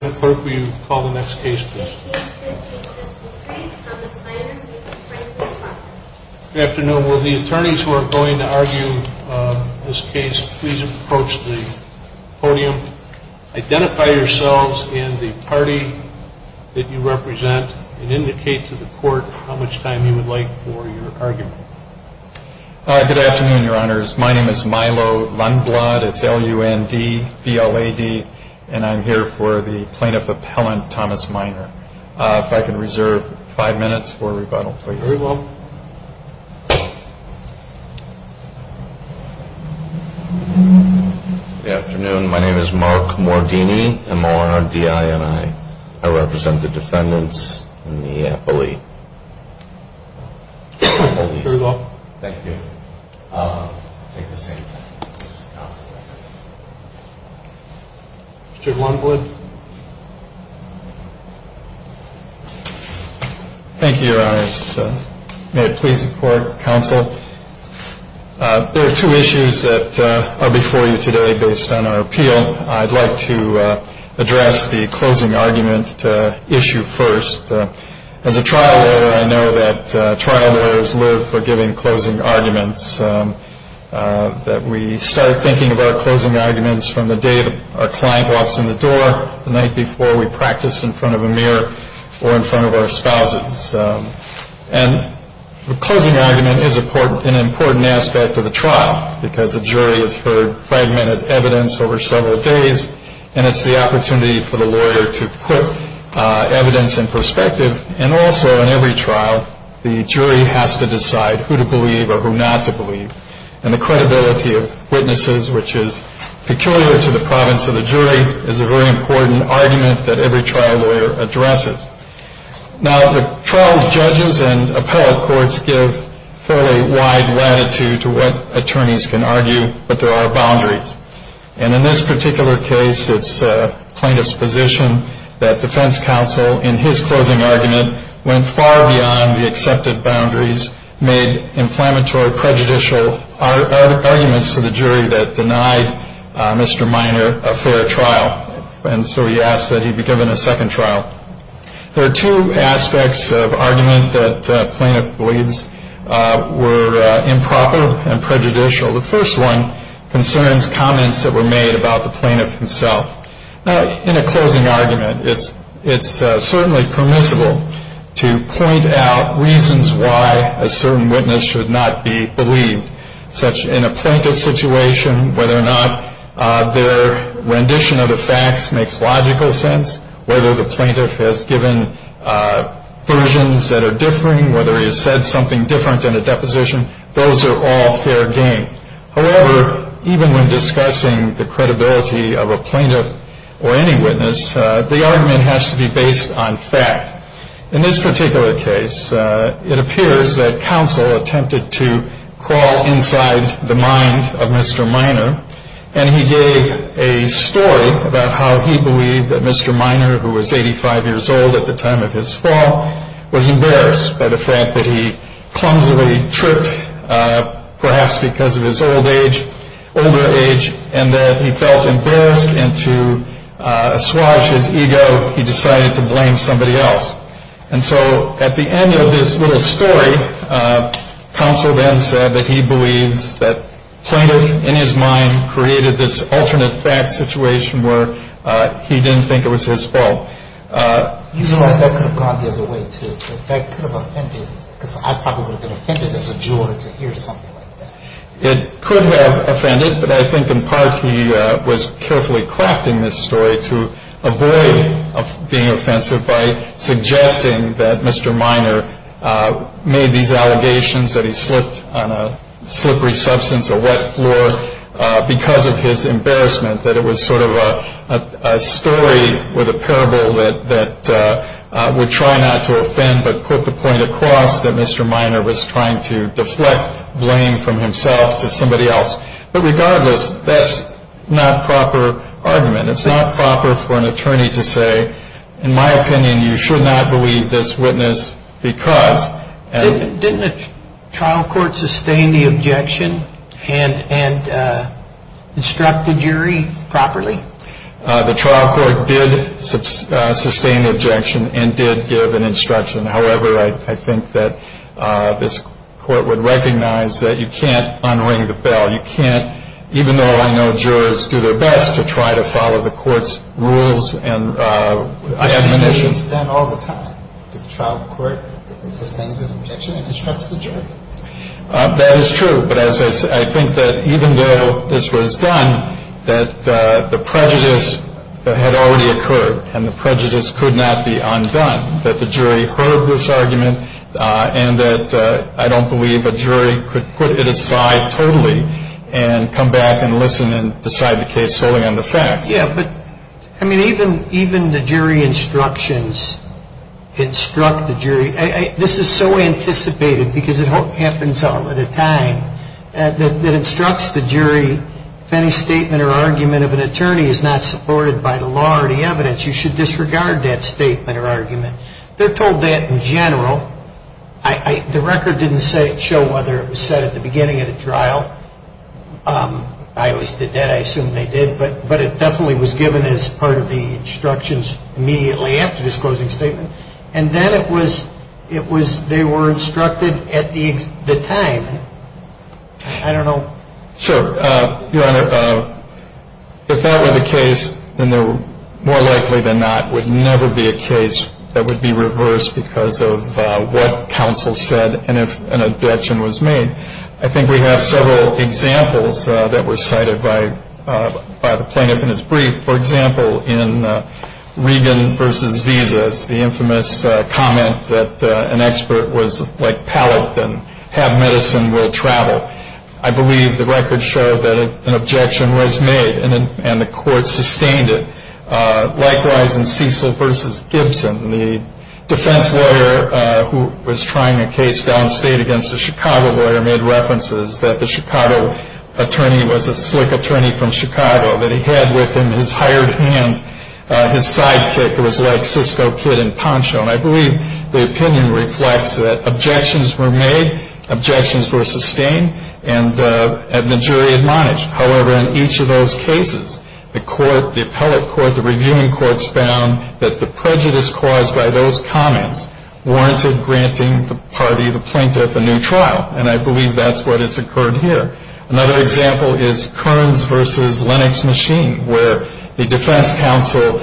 Good afternoon. Will the attorneys who are going to argue this case please approach the podium. Identify yourselves and the party that you represent and indicate to the court how much time you would like for your argument. Good afternoon, your honors. My name is Milo Lundblad. It's L-U-N-D-B-L-A-D and I'm here for the plaintiff appellant Thomas Miner. If I could reserve five minutes for rebuttal please. Very well. Good afternoon. My name is Mark Mordini. I represent the defendants in the appellate. Very well. Thank you. I'll take the same time. Mr. Lundblad. Thank you, your honors. May it please the court, counsel. There are two issues that are before you today based on our appeal. I'd like to address the closing argument issue first. As a trial lawyer I know that trial lawyers live for giving closing arguments, that we start thinking about closing arguments from the day our client walks in the door, the night before we practice in front of a mirror or in front of our spouses. And the closing argument is an important aspect of the trial because the jury has heard fragmented evidence over several days and it's the opportunity for the lawyer to put evidence in perspective. And also in every trial the jury has to decide who to believe or who not to believe. And the credibility of witnesses, which is peculiar to the province of the jury, is a very important argument that every trial lawyer addresses. Now the trial judges and appellate courts give fairly wide latitude to what attorneys can argue, but there are boundaries. And in this particular case it's plaintiff's position that defense counsel in his closing argument went far beyond the accepted boundaries, made inflammatory prejudicial arguments to the jury that denied Mr. Minor a fair trial. And so he asked that he be given a second trial. There are two aspects of argument that plaintiff believes were improper and prejudicial. The first one concerns comments that were made about the plaintiff himself. Now in a closing argument it's certainly permissible to point out reasons why a certain witness should not be believed, such in a plaintiff's situation whether or not their rendition of the facts makes logical sense, whether the plaintiff has given versions that are differing, whether he has said something different in a deposition. Those are all fair game. However, even when discussing the credibility of a plaintiff or any witness, the argument has to be based on fact. In this particular case it appears that counsel attempted to crawl inside the mind of Mr. Minor and he gave a story about how he believed that Mr. Minor, who was 85 years old at the time of his fall, was embarrassed by the fact that he clumsily tripped perhaps because of his older age and that he felt embarrassed and to assuage his ego he decided to blame somebody else. And so at the end of this little story, counsel then said that he believes that plaintiff, in his mind, created this alternate fact situation where he didn't think it was his fault. You know, that could have gone the other way, too. That could have offended, because I probably would have been offended as a juror to hear something like that. It could have offended, but I think in part he was carefully crafting this story to avoid being offensive by suggesting that Mr. Minor made these allegations that he slipped on a slippery substance, a wet floor, because of his embarrassment, that it was sort of a story with a parable that would try not to offend but put the point across that Mr. Minor was trying to deflect blame from himself to somebody else. But regardless, that's not proper argument. It's not proper for an attorney to say, in my opinion, you should not believe this witness because. Didn't the trial court sustain the objection and instruct the jury properly? The trial court did sustain the objection and did give an instruction. However, I think that this court would recognize that you can't unring the bell. You can't, even though I know jurors do their best to try to follow the court's rules and admonitions. But I don't believe a jury could put it aside totally and come back and listen and decide the case solely on the facts. Yeah, but, I mean, even the jury instruction, I mean, I don't believe that the jury instruction instruct the jury. This is so anticipated because it happens all at a time. It instructs the jury if any statement or argument of an attorney is not supported by the law or the evidence, you should disregard that statement or argument. They're told that in general. The record didn't show whether it was said at the beginning of the trial. I always did that. I assume they did. But it definitely was given as part of the instructions immediately after this closing statement. And then it was they were instructed at the time. I don't know. Sure. Your Honor, if that were the case, then more likely than not, it would never be a case that would be reversed because of what counsel said and if an objection was made. I think we have several examples that were cited by the plaintiff in his brief. For example, in Regan v. Visas, the infamous comment that an expert was like pallet and have medicine will travel. I believe the record showed that an objection was made and the court sustained it. Likewise, in Cecil v. Gibson, the defense lawyer who was trying a case downstate against a Chicago lawyer made references that the Chicago attorney was a slick attorney from Chicago, that he had with him his hired hand, his sidekick, who was like Cisco kid in poncho. And I believe the opinion reflects that objections were made, objections were sustained, and the jury admonished. However, in each of those cases, the court, the appellate court, the reviewing courts, found that the prejudice caused by those comments warranted granting the party, the plaintiff, a new trial. And I believe that's what has occurred here. Another example is Kearns v. Lennox Machine, where the defense counsel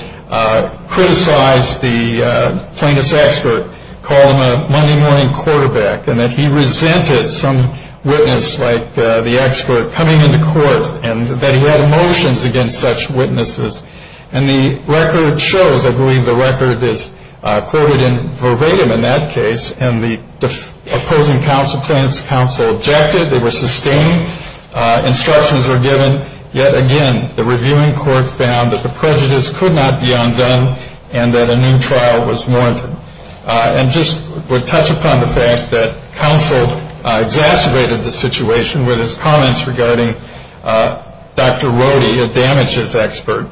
criticized the plaintiff's expert, called him a Monday morning quarterback, and that he resented some witness like the expert coming into court and that he had emotions against such witnesses. And the record shows, I believe the record is quoted in verbatim in that case, and the opposing counsel, plaintiff's counsel, objected. Instructions were given. Yet again, the reviewing court found that the prejudice could not be undone and that a new trial was warranted. And just to touch upon the fact that counsel exacerbated the situation with his comments regarding Dr. Rohde, a damages expert,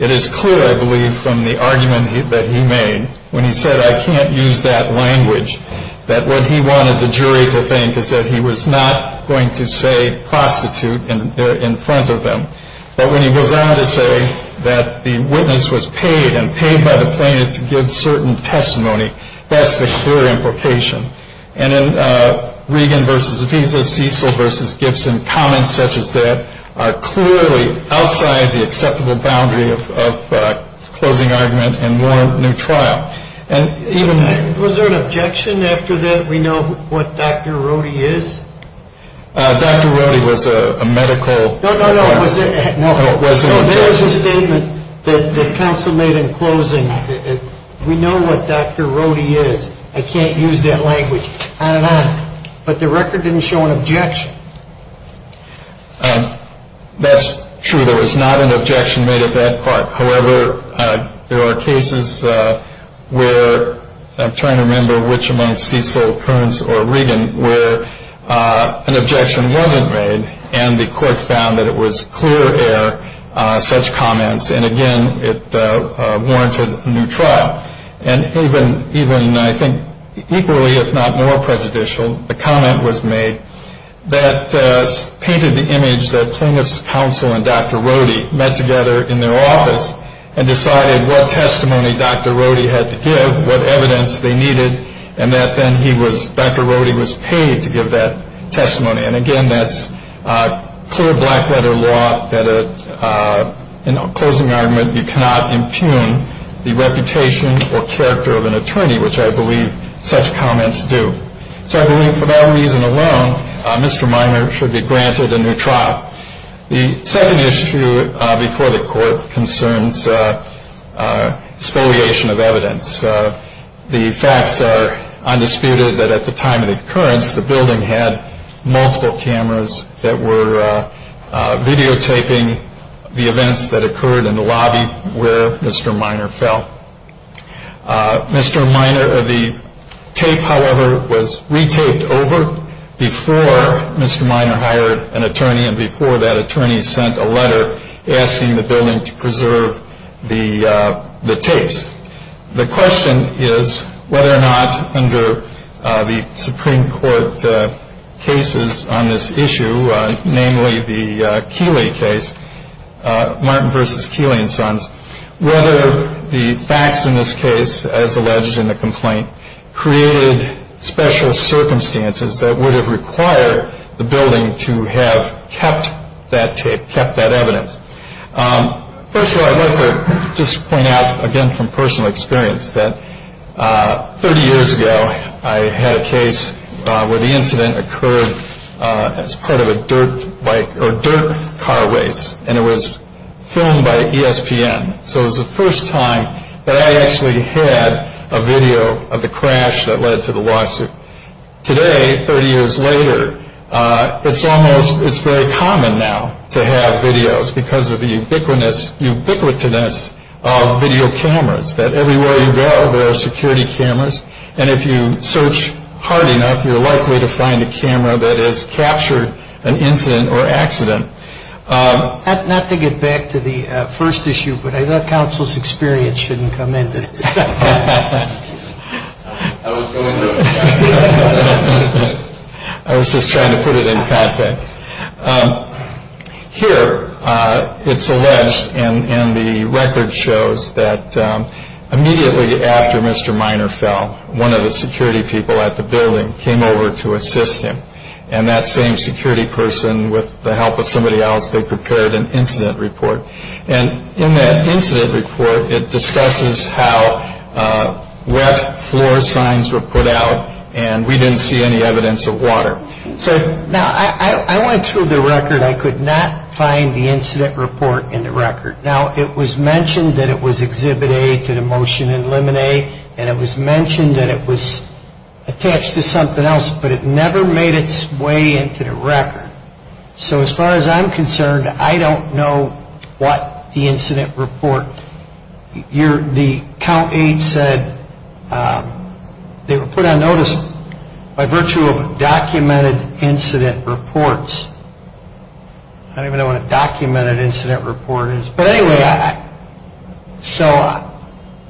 it is clear, I believe, from the argument that he made when he said, I can't use that language, that what he wanted the jury to think is that he was not going to say prostitute in front of them. But when he goes on to say that the witness was paid and paid by the plaintiff to give certain testimony, that's the clear implication. And in Regan v. Visa, Cecil v. Gibson, comments such as that are clearly outside the acceptable boundary of closing argument and warrant new trial. Was there an objection after that, we know what Dr. Rohde is? Dr. Rohde was a medical... No, no, no. Was there an objection? No, there was a statement that counsel made in closing. We know what Dr. Rohde is. I can't use that language. On and on. But the record didn't show an objection. That's true. There was not an objection made at that part. However, there are cases where, I'm trying to remember which among Cecil, Kearns, or Regan, where an objection wasn't made and the court found that it was clear-air such comments. And, again, it warranted a new trial. And even, I think, equally if not more prejudicial, a comment was made that painted the image that plaintiff's counsel and Dr. Rohde met together in their office and decided what testimony Dr. Rohde had to give, what evidence they needed, and that then Dr. Rohde was paid to give that testimony. And, again, that's clear black-letter law that in a closing argument you cannot impugn the reputation or character of an attorney, which I believe such comments do. So I believe for that reason alone, Mr. Minor should be granted a new trial. The second issue before the court concerns spoliation of evidence. The facts are undisputed that at the time of the occurrence, the building had multiple cameras that were videotaping the events that occurred in the lobby where Mr. Minor fell. Mr. Minor, the tape, however, was re-taped over before Mr. Minor hired an attorney and before that attorney sent a letter asking the building to preserve the tapes. The question is whether or not under the Supreme Court cases on this issue, namely the Keeley case, Martin v. Keeley and Sons, whether the facts in this case, as alleged in the complaint, created special circumstances that would have required the building to have kept that tape, kept that evidence. First of all, I'd like to just point out, again, from personal experience, that 30 years ago I had a case where the incident occurred as part of a dirt car race and it was filmed by ESPN. So it was the first time that I actually had a video of the crash that led to the lawsuit. Today, 30 years later, it's very common now to have videos because of the ubiquitousness of video cameras that everywhere you go there are security cameras. And if you search hard enough, you're likely to find a camera that has captured an incident or accident. Not to get back to the first issue, but I thought counsel's experience shouldn't come into this. I was going to. I was just trying to put it in context. Here, it's alleged and the record shows that immediately after Mr. Minor fell, one of the security people at the building came over to assist him. And that same security person, with the help of somebody else, they prepared an incident report. And in that incident report, it discusses how wet floor signs were put out and we didn't see any evidence of water. Now, I went through the record. I could not find the incident report in the record. Now, it was mentioned that it was exhibit A to the motion in limine and it was mentioned that it was attached to something else, but it never made its way into the record. So as far as I'm concerned, I don't know what the incident report. The count eight said they were put on notice by virtue of documented incident reports. I don't even know what a documented incident report is. But anyway, so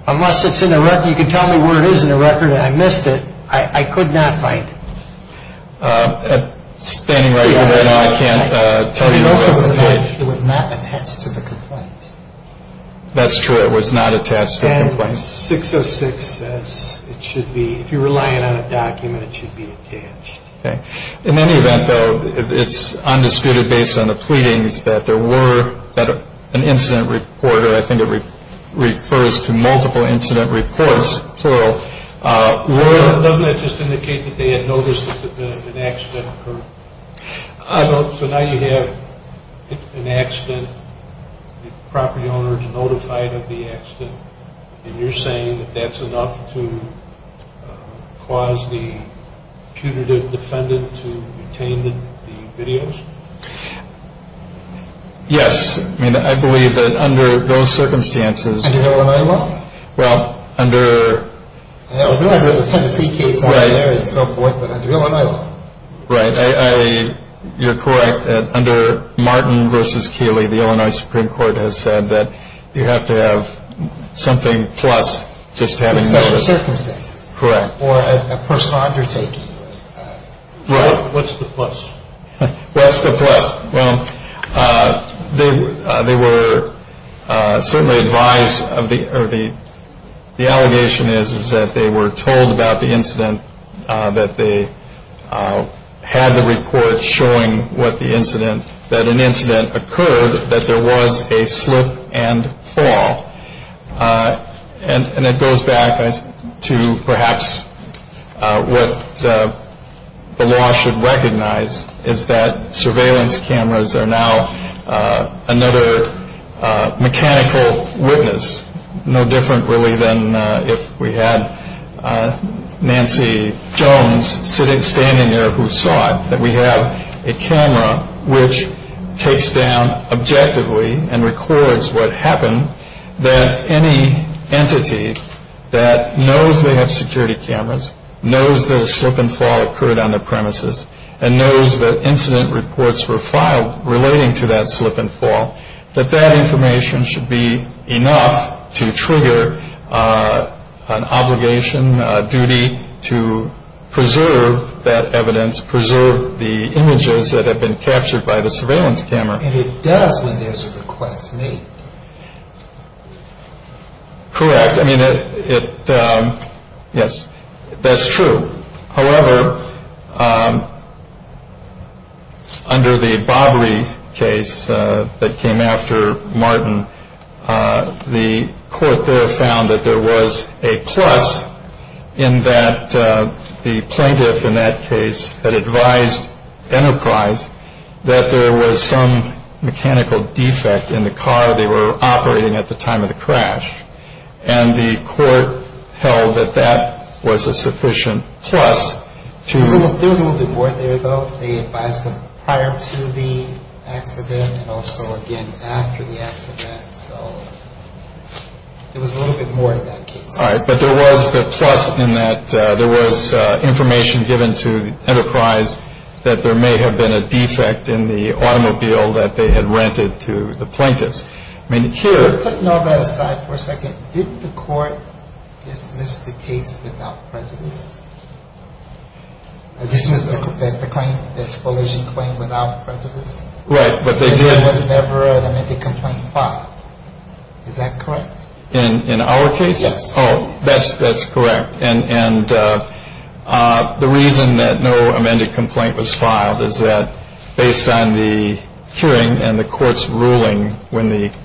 unless it's in the record, you can tell me where it is in the record and I missed it. I could not find it. Standing right here right now, I can't tell you. It was not attached to the complaint. That's true. It was not attached to the complaint. And 606 says it should be, if you're relying on a document, it should be attached. Okay. In any event, though, it's undisputed based on the pleadings that there were an incident report, and I think it refers to multiple incident reports, plural. Doesn't that just indicate that they had noticed that an accident occurred? So now you have an accident. The property owner is notified of the accident. And you're saying that that's enough to cause the punitive defendant to retain the videos? Yes. I mean, I believe that under those circumstances. Under Illinois law? Well, under... I realize there's a Tennessee case there and so forth, but under Illinois law? Right. You're correct. Under Martin v. Keeley, the Illinois Supreme Court has said that you have to have something plus just having noticed. Special circumstances. Correct. Or a personal undertaking. Right. What's the plus? What's the plus? Well, they were certainly advised, or the allegation is that they were told about the incident, that they had the report showing that an incident occurred, that there was a slip and fall. And it goes back to perhaps what the law should recognize, is that surveillance cameras are now another mechanical witness, no different really than if we had Nancy Jones standing there who saw it, that we have a camera which takes down objectively and records what happened, that any entity that knows they have security cameras, knows the slip and fall occurred on the premises, and knows that incident reports were filed relating to that slip and fall, that that information should be enough to trigger an obligation, a duty to preserve that evidence, preserve the images that have been captured by the surveillance camera. And it does when there's a request made. Correct. I mean, yes, that's true. However, under the Bobbery case that came after Martin, the court there found that there was a plus in that the plaintiff, in that case, had advised Enterprise that there was some mechanical defect in the car they were operating at the time of the crash. And the court held that that was a sufficient plus. There was a little bit more there, though. They advised them prior to the accident and also, again, after the accident. So it was a little bit more in that case. All right. But there was the plus in that there was information given to Enterprise that there may have been a defect in the automobile that they had rented to the plaintiffs. I mean, here. Putting all that aside for a second, did the court dismiss the case without prejudice? Dismiss the claim, the expoliation claim without prejudice? Right. But there was never an amended complaint filed. Is that correct? In our case? Yes. Oh, that's correct. And the reason that no amended complaint was filed is that based on the hearing and the court's ruling when the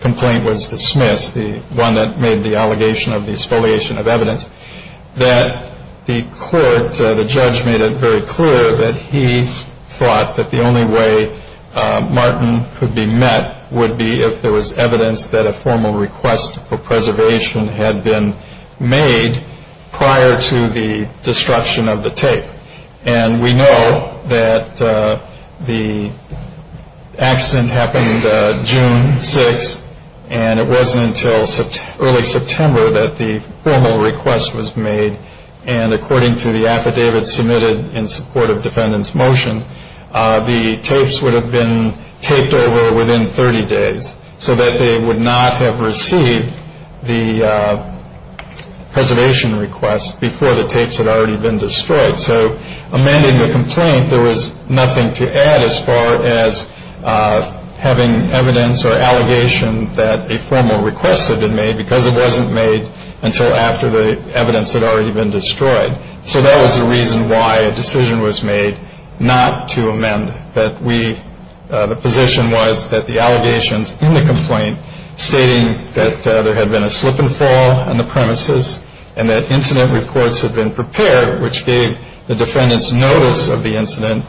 complaint was dismissed, the one that made the allegation of the expoliation of evidence, that the court, the judge, made it very clear that he thought that the only way Martin could be met would be if there was evidence that a formal request for preservation had been made prior to the destruction of the tape. And we know that the accident happened June 6th, and it wasn't until early September that the formal request was made. And according to the affidavit submitted in support of defendant's motion, the tapes would have been taped over within 30 days so that they would not have received the preservation request before the tapes had already been destroyed. So amending the complaint, there was nothing to add as far as having evidence or allegation that a formal request had been made because it wasn't made until after the evidence had already been destroyed. So that was the reason why a decision was made not to amend. The position was that the allegations in the complaint stating that there had been a slip and fall on the premises and that incident reports had been prepared, which gave the defendants notice of the incident,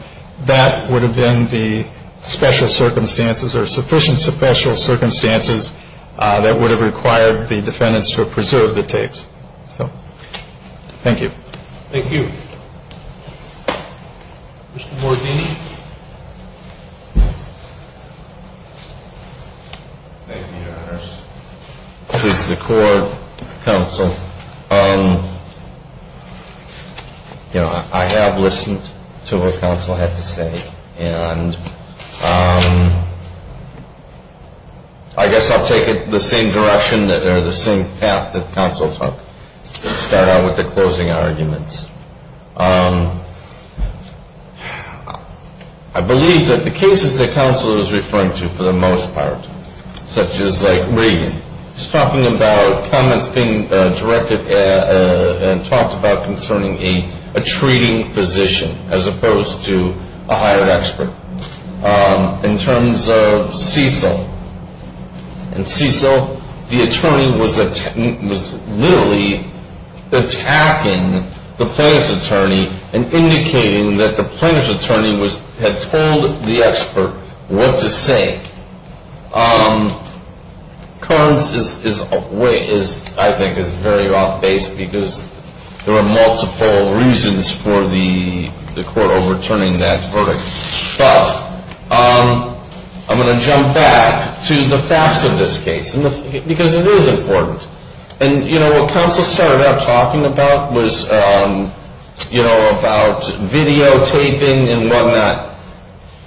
that would have been the special circumstances or sufficient special circumstances that would have required the defendants to preserve the tapes. So thank you. Thank you. Mr. Mordini. Thank you, Your Honors. Please record, counsel. You know, I have listened to what counsel had to say. And I guess I'll take it the same direction or the same path that counsel took. Start out with the closing arguments. I believe that the cases that counsel is referring to for the most part, such as like Reagan, is talking about comments being directed and talked about concerning a treating physician as opposed to a hired expert. In terms of Cecil. In Cecil, the attorney was literally attacking the plaintiff's attorney and indicating that the plaintiff's attorney had told the expert what to say. Kearns, I think, is very off base because there are multiple reasons for the court overturning that verdict. But I'm going to jump back to the facts of this case because it is important. And, you know, what counsel started out talking about was, you know, about videotaping and whatnot.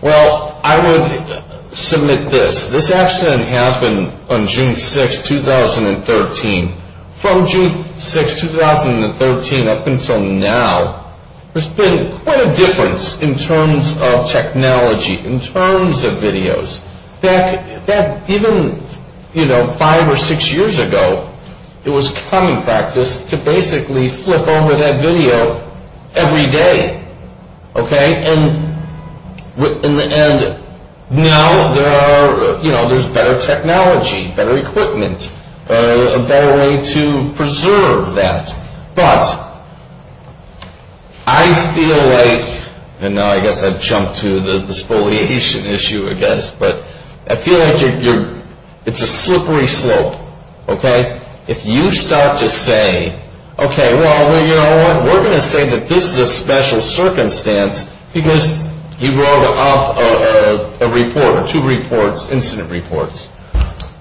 Well, I would submit this. This accident happened on June 6, 2013. From June 6, 2013 up until now, there's been quite a difference in terms of technology, in terms of videos. Back even, you know, five or six years ago, it was common practice to basically flip over that video every day. And now there's better technology, better equipment, a better way to preserve that. But I feel like, and now I guess I've jumped to the spoliation issue, I guess, but I feel like it's a slippery slope. If you start to say, okay, well, you know what, we're going to say that this is a special circumstance because he wrote up a report or two reports, incident reports.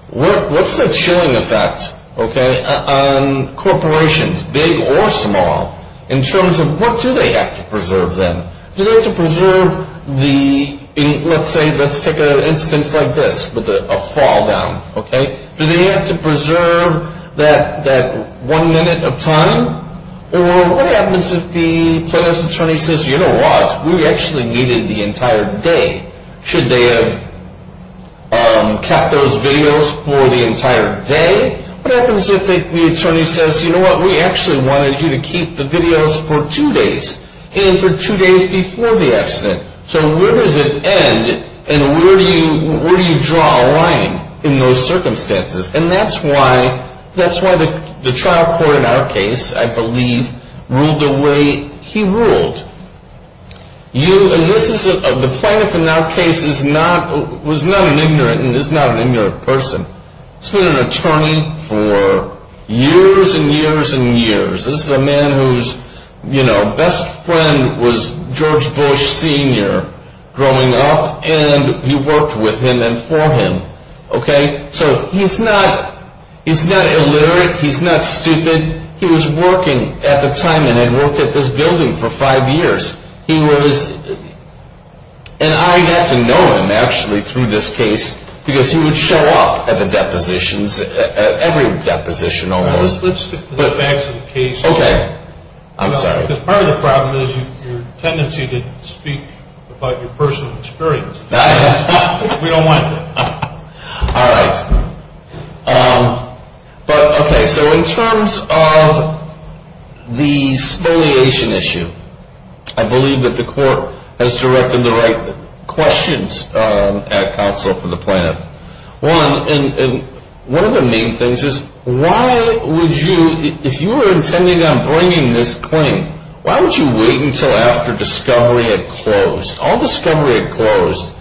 What's the chilling effect on corporations, big or small, in terms of what do they have to preserve then? Do they have to preserve the, let's say, let's take an instance like this with a fall down. Do they have to preserve that one minute of time? Or what happens if the plaintiff's attorney says, you know what, we actually needed the entire day. Should they have kept those videos for the entire day? What happens if the attorney says, you know what, we actually wanted you to keep the videos for two days, and for two days before the accident. So where does it end, and where do you draw a line in those circumstances? And that's why the trial court in our case, I believe, ruled the way he ruled. The plaintiff in our case was not an ignorant, and is not an ignorant person. He's been an attorney for years and years and years. This is a man whose, you know, best friend was George Bush Senior growing up, and he worked with him and for him, okay? So he's not illiterate, he's not stupid. He was working at the time and had worked at this building for five years. He was, and I got to know him actually through this case, because he would show up at the depositions, at every deposition almost. Let's get back to the case. Okay. I'm sorry. Because part of the problem is your tendency to speak about your personal experience. We don't want that. All right. But, okay, so in terms of the spoliation issue, I believe that the court has directed the right questions at counsel for the plaintiff. One, and one of the main things is why would you, if you were intending on bringing this claim, why would you wait until after discovery had closed? All discovery had closed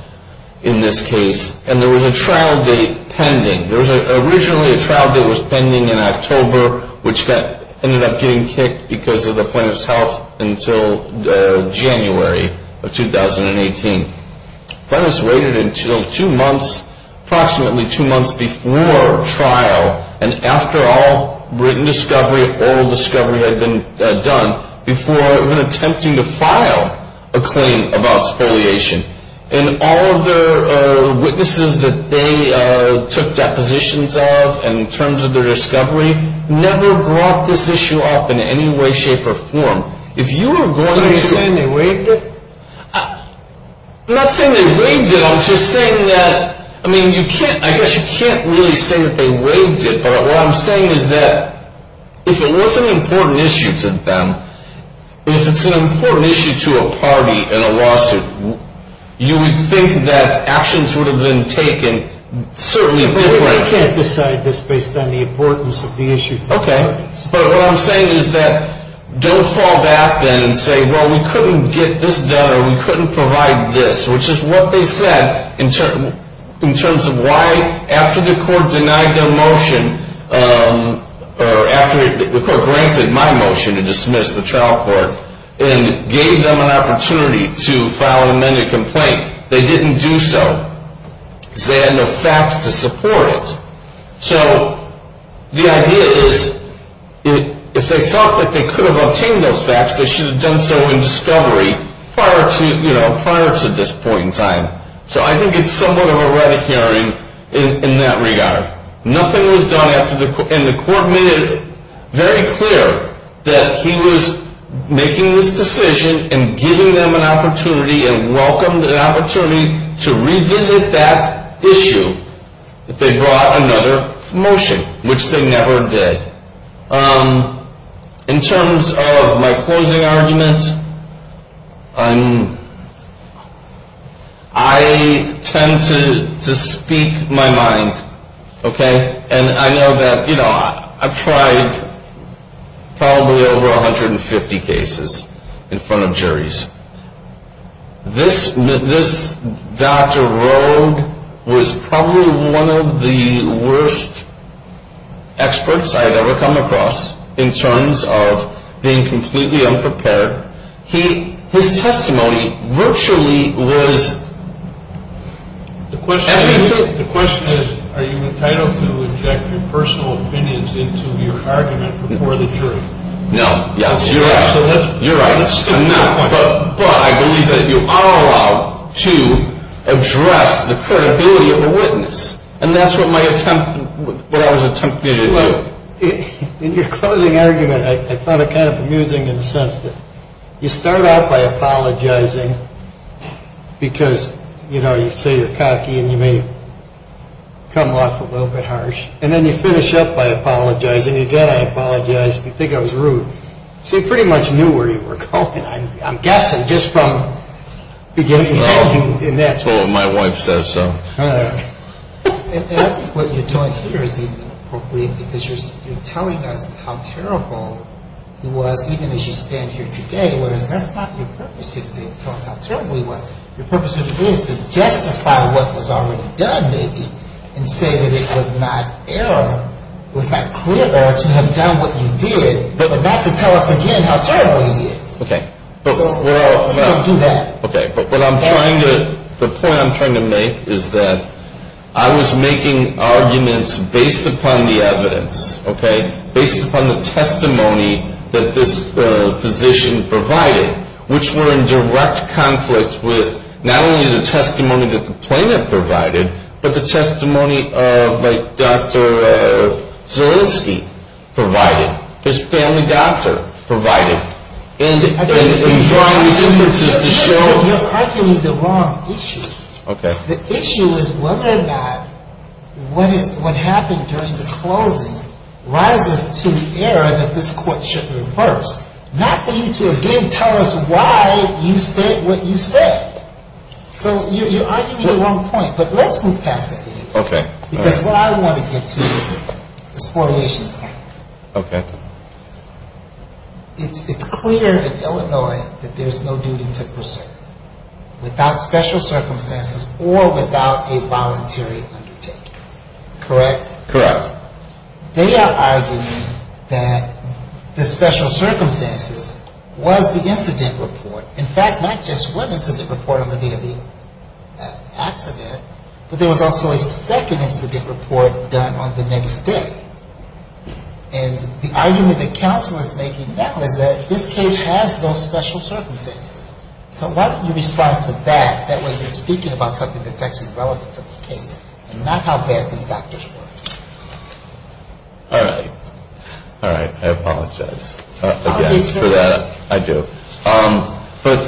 in this case, and there was a trial date pending. There was originally a trial date that was pending in October, which ended up getting kicked because of the plaintiff's health until January of 2018. That was waited until two months, approximately two months before trial, and after all written discovery, oral discovery had been done, before even attempting to file a claim about spoliation. And all of the witnesses that they took depositions of in terms of their discovery never brought this issue up in any way, shape, or form. Are you saying they waived it? I'm not saying they waived it. I'm just saying that, I mean, you can't, I guess you can't really say that they waived it, but what I'm saying is that if it was an important issue to them, if it's an important issue to a party in a lawsuit, you would think that actions would have been taken certainly differently. But we can't decide this based on the importance of the issue to the parties. But what I'm saying is that don't fall back then and say, well, we couldn't get this done or we couldn't provide this, which is what they said in terms of why after the court denied their motion, or after the court granted my motion to dismiss the trial court and gave them an opportunity to file an amended complaint, they didn't do so because they had no facts to support it. So the idea is if they thought that they could have obtained those facts, they should have done so in discovery prior to this point in time. So I think it's somewhat of a rabbit hearing in that regard. Nothing was done after the court, and the court made it very clear that he was making this decision and giving them an opportunity and welcomed an opportunity to revisit that issue. They brought another motion, which they never did. In terms of my closing argument, I tend to speak my mind, okay? And I know that, you know, I've tried probably over 150 cases in front of juries. This Dr. Roe was probably one of the worst experts I've ever come across in terms of being completely unprepared. His testimony virtually was – The question is, are you entitled to inject your personal opinions into your argument before the jury? No, yes, you're right. But I believe that you are allowed to address the credibility of a witness. And that's what my attempt – what I was attempting to do. In your closing argument, I found it kind of amusing in the sense that you start out by apologizing because, you know, you say you're cocky and you may come off a little bit harsh. And then you finish up by apologizing. Again, I apologize if you think I was rude. So you pretty much knew where you were going, I'm guessing, just from beginning to end. Well, my wife says so. And I think what you're doing here is even appropriate because you're telling us how terrible it was, even as you stand here today. Whereas that's not your purpose here today, to tell us how terrible it was. Your purpose here today is to justify what was already done, maybe, and say that it was not error, it was not clear error to have done what you did. But not to tell us again how terrible it is. Okay. So do that. Okay, but what I'm trying to – the point I'm trying to make is that I was making arguments based upon the evidence, okay, based upon the testimony that this physician provided, which were in direct conflict with not only the testimony that the plaintiff provided, but the testimony of, like, Dr. Zielinski provided. His family doctor provided. And drawing these inferences to show – You're arguing the wrong issue. Okay. The issue is whether or not what happened during the closing rises to the error that this court should reverse, not for you to again tell us why you said what you said. So you're arguing the wrong point. But let's move past that. Okay. Because what I want to get to is this formulation of the claim. Okay. It's clear in Illinois that there's no duty to preserve without special circumstances or without a voluntary undertaking. Correct? Correct. They are arguing that the special circumstances was the incident report. In fact, not just one incident report on the day of the accident, but there was also a second incident report done on the next day. And the argument that counsel is making now is that this case has no special circumstances. So why don't you respond to that? That way you're speaking about something that's actually relevant to the case and not how bad these factors were. All right. All right. I apologize. Apologize for that. I do. But,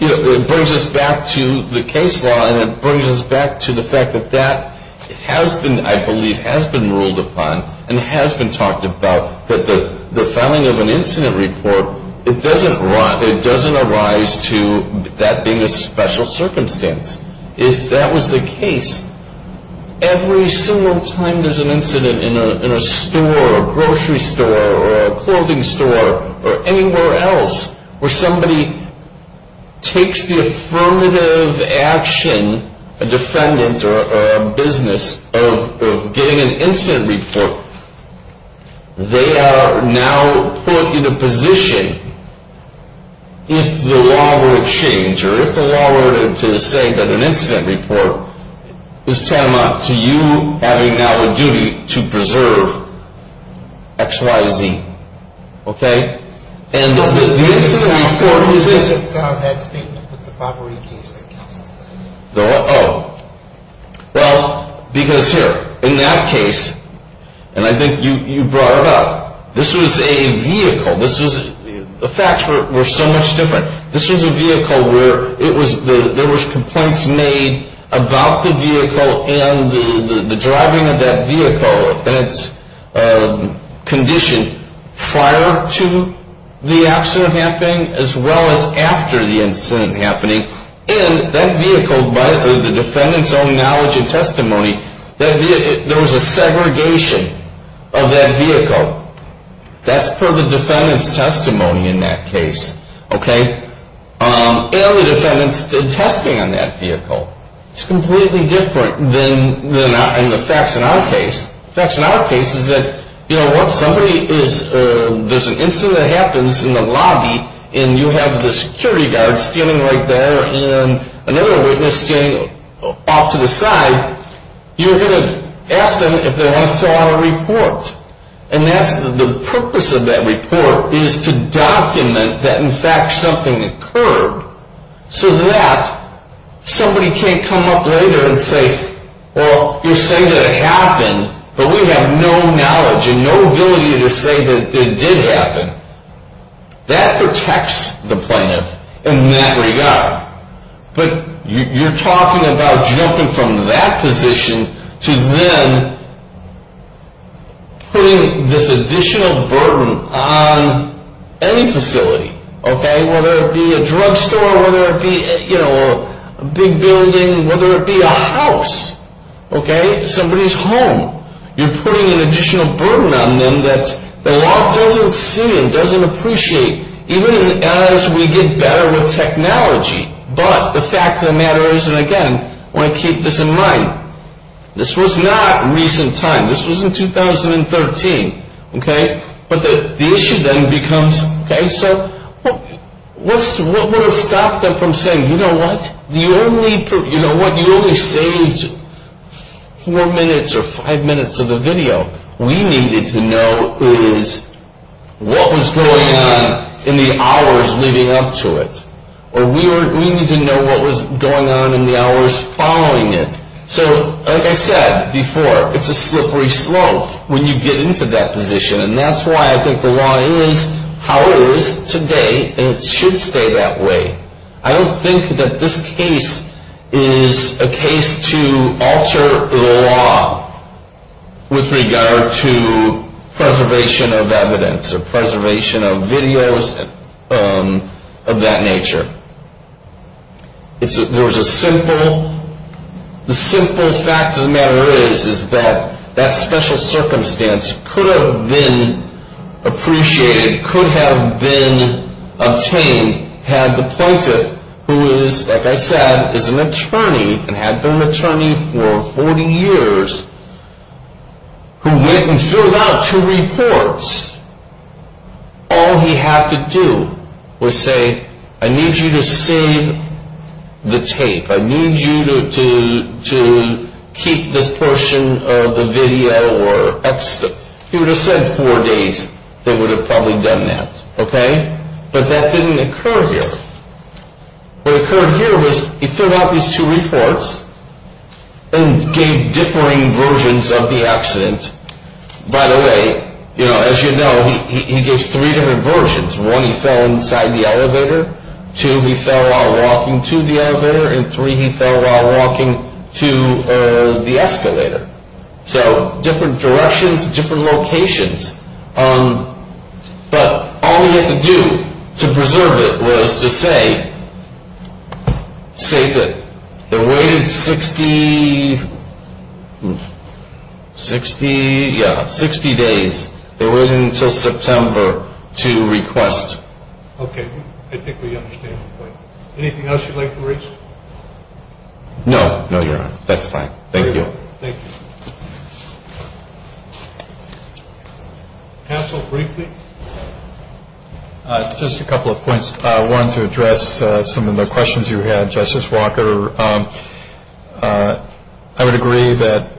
you know, it brings us back to the case law, and it brings us back to the fact that that has been, I believe, has been ruled upon and has been talked about that the filing of an incident report, it doesn't arise to that being a special circumstance. If that was the case, every single time there's an incident in a store, a grocery store or a clothing store or anywhere else where somebody takes the affirmative action, a defendant or a business of getting an incident report, they are now put in a position, if the law were to change X, Y, Z. Okay? And the incident report isn't... I just saw that statement with the robbery case that counsel said. Oh. Well, because here, in that case, and I think you brought it up, this was a vehicle. The facts were so much different. This was a vehicle where there was complaints made about the vehicle and the driving of that vehicle. And it's conditioned prior to the accident happening as well as after the incident happening. And that vehicle, by the defendant's own knowledge and testimony, there was a segregation of that vehicle. That's per the defendant's testimony in that case. Okay? And the defendant's testing on that vehicle. It's completely different than the facts in our case. The facts in our case is that, you know what, somebody is... There's an incident that happens in the lobby, and you have the security guard standing right there and another witness standing off to the side. You're going to ask them if they want to fill out a report. And that's the purpose of that report is to document that, in fact, something occurred so that somebody can't come up later and say, well, you're saying that it happened, but we have no knowledge and no ability to say that it did happen. That protects the plaintiff in that regard. But you're talking about jumping from that position to then putting this additional burden on any facility. Okay? Whether it be a drugstore, whether it be, you know, a big building, whether it be a house. Okay? Somebody's home. You're putting an additional burden on them that the law doesn't see and doesn't appreciate, even as we get better with technology. But the fact of the matter is, and again, I want to keep this in mind, this was not recent time. This was in 2013. Okay? But the issue then becomes... Okay? So what will stop them from saying, you know what? You only saved four minutes or five minutes of the video. We needed to know what was going on in the hours leading up to it. Or we need to know what was going on in the hours following it. So like I said before, it's a slippery slope when you get into that position. And that's why I think the law is how it is today, and it should stay that way. I don't think that this case is a case to alter the law with regard to preservation of evidence or preservation of videos of that nature. There's a simple... The simple fact of the matter is, is that that special circumstance could have been appreciated, could have been obtained had the plaintiff, who is, like I said, is an attorney and had been an attorney for 40 years, who went and filled out two reports. All he had to do was say, I need you to save the tape. I need you to keep this portion of the video or... He would have said four days, they would have probably done that. Okay? But that didn't occur here. What occurred here was he filled out these two reports and gave differing versions of the accident. By the way, as you know, he gave three different versions. One, he fell inside the elevator. Two, he fell while walking to the elevator. And three, he fell while walking to the escalator. So different directions, different locations. But all he had to do to preserve it was to say, save it. It waited 60 days. It waited until September to request. Okay. I think we understand the point. Anything else you'd like to raise? No. No, Your Honor. That's fine. Thank you. Thank you. Counsel, briefly? Just a couple of points. One, to address some of the questions you had, Justice Walker. I would agree that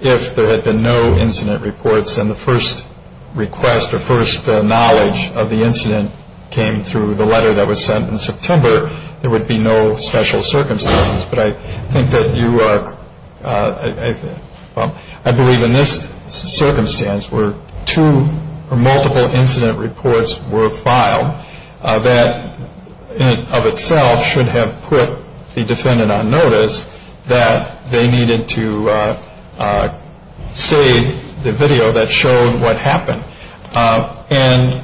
if there had been no incident reports and the first request or first knowledge of the incident came through the letter that was sent in September, there would be no special circumstances. But I think that you are... I believe in this circumstance where two or multiple incident reports were filed, that in and of itself should have put the defendant on notice that they needed to save the video that showed what happened. And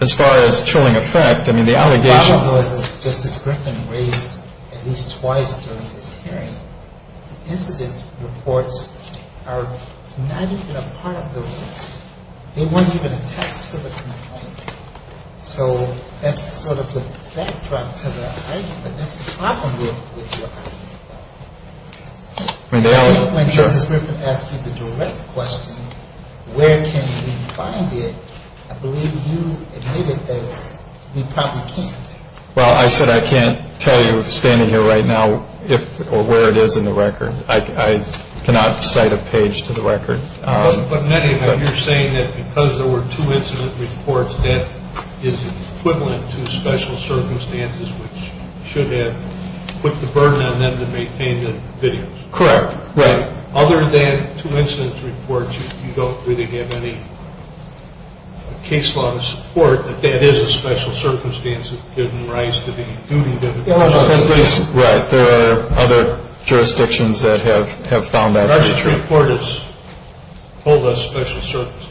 as far as chilling effect, I mean, the allegation... The problem was, as Justice Griffin raised at least twice during this hearing, incident reports are not even a part of the report. They weren't even attached to the complaint. So that's sort of the backdrop to the argument. That's the problem with your argument. I think when Justice Griffin asked you the direct question, where can we find it, I believe you admitted that we probably can't. Well, I said I can't tell you standing here right now where it is in the record. I cannot cite a page to the record. But in any event, you're saying that because there were two incident reports, that is equivalent to special circumstances, which should have put the burden on them to maintain the videos. Correct. Right. Other than two incident reports, you don't really have any case law to support that that is a special circumstance that didn't rise to the duty of the court. Right. There are other jurisdictions that have found that. Judiciary reporters hold those special circumstances.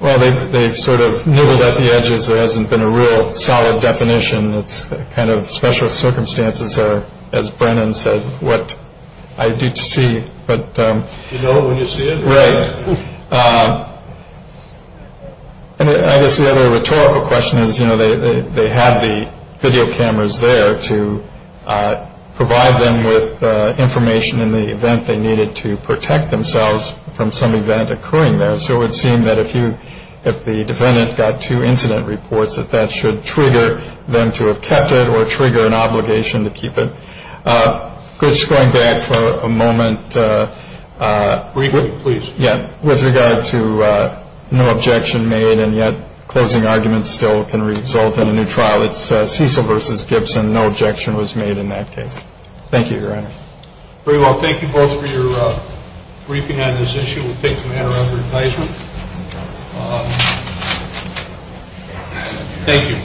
Well, they've sort of nibbled at the edges. There hasn't been a real solid definition. It's kind of special circumstances, as Brennan said, what I do to see. But you know when you see it. Right. And I guess the other rhetorical question is, you know, they have the video cameras there to provide them with information in the event they needed to protect themselves from some event occurring there. So it would seem that if you if the defendant got two incident reports, that that should trigger them to have kept it or trigger an obligation to keep it. Just going back for a moment. Briefly, please. With regard to no objection made and yet closing arguments still can result in a new trial, it's Cecil versus Gibson. No objection was made in that case. Thank you, Your Honor. Very well. Thank you both for your briefing on this issue. We'll take the matter under advisement. Thank you.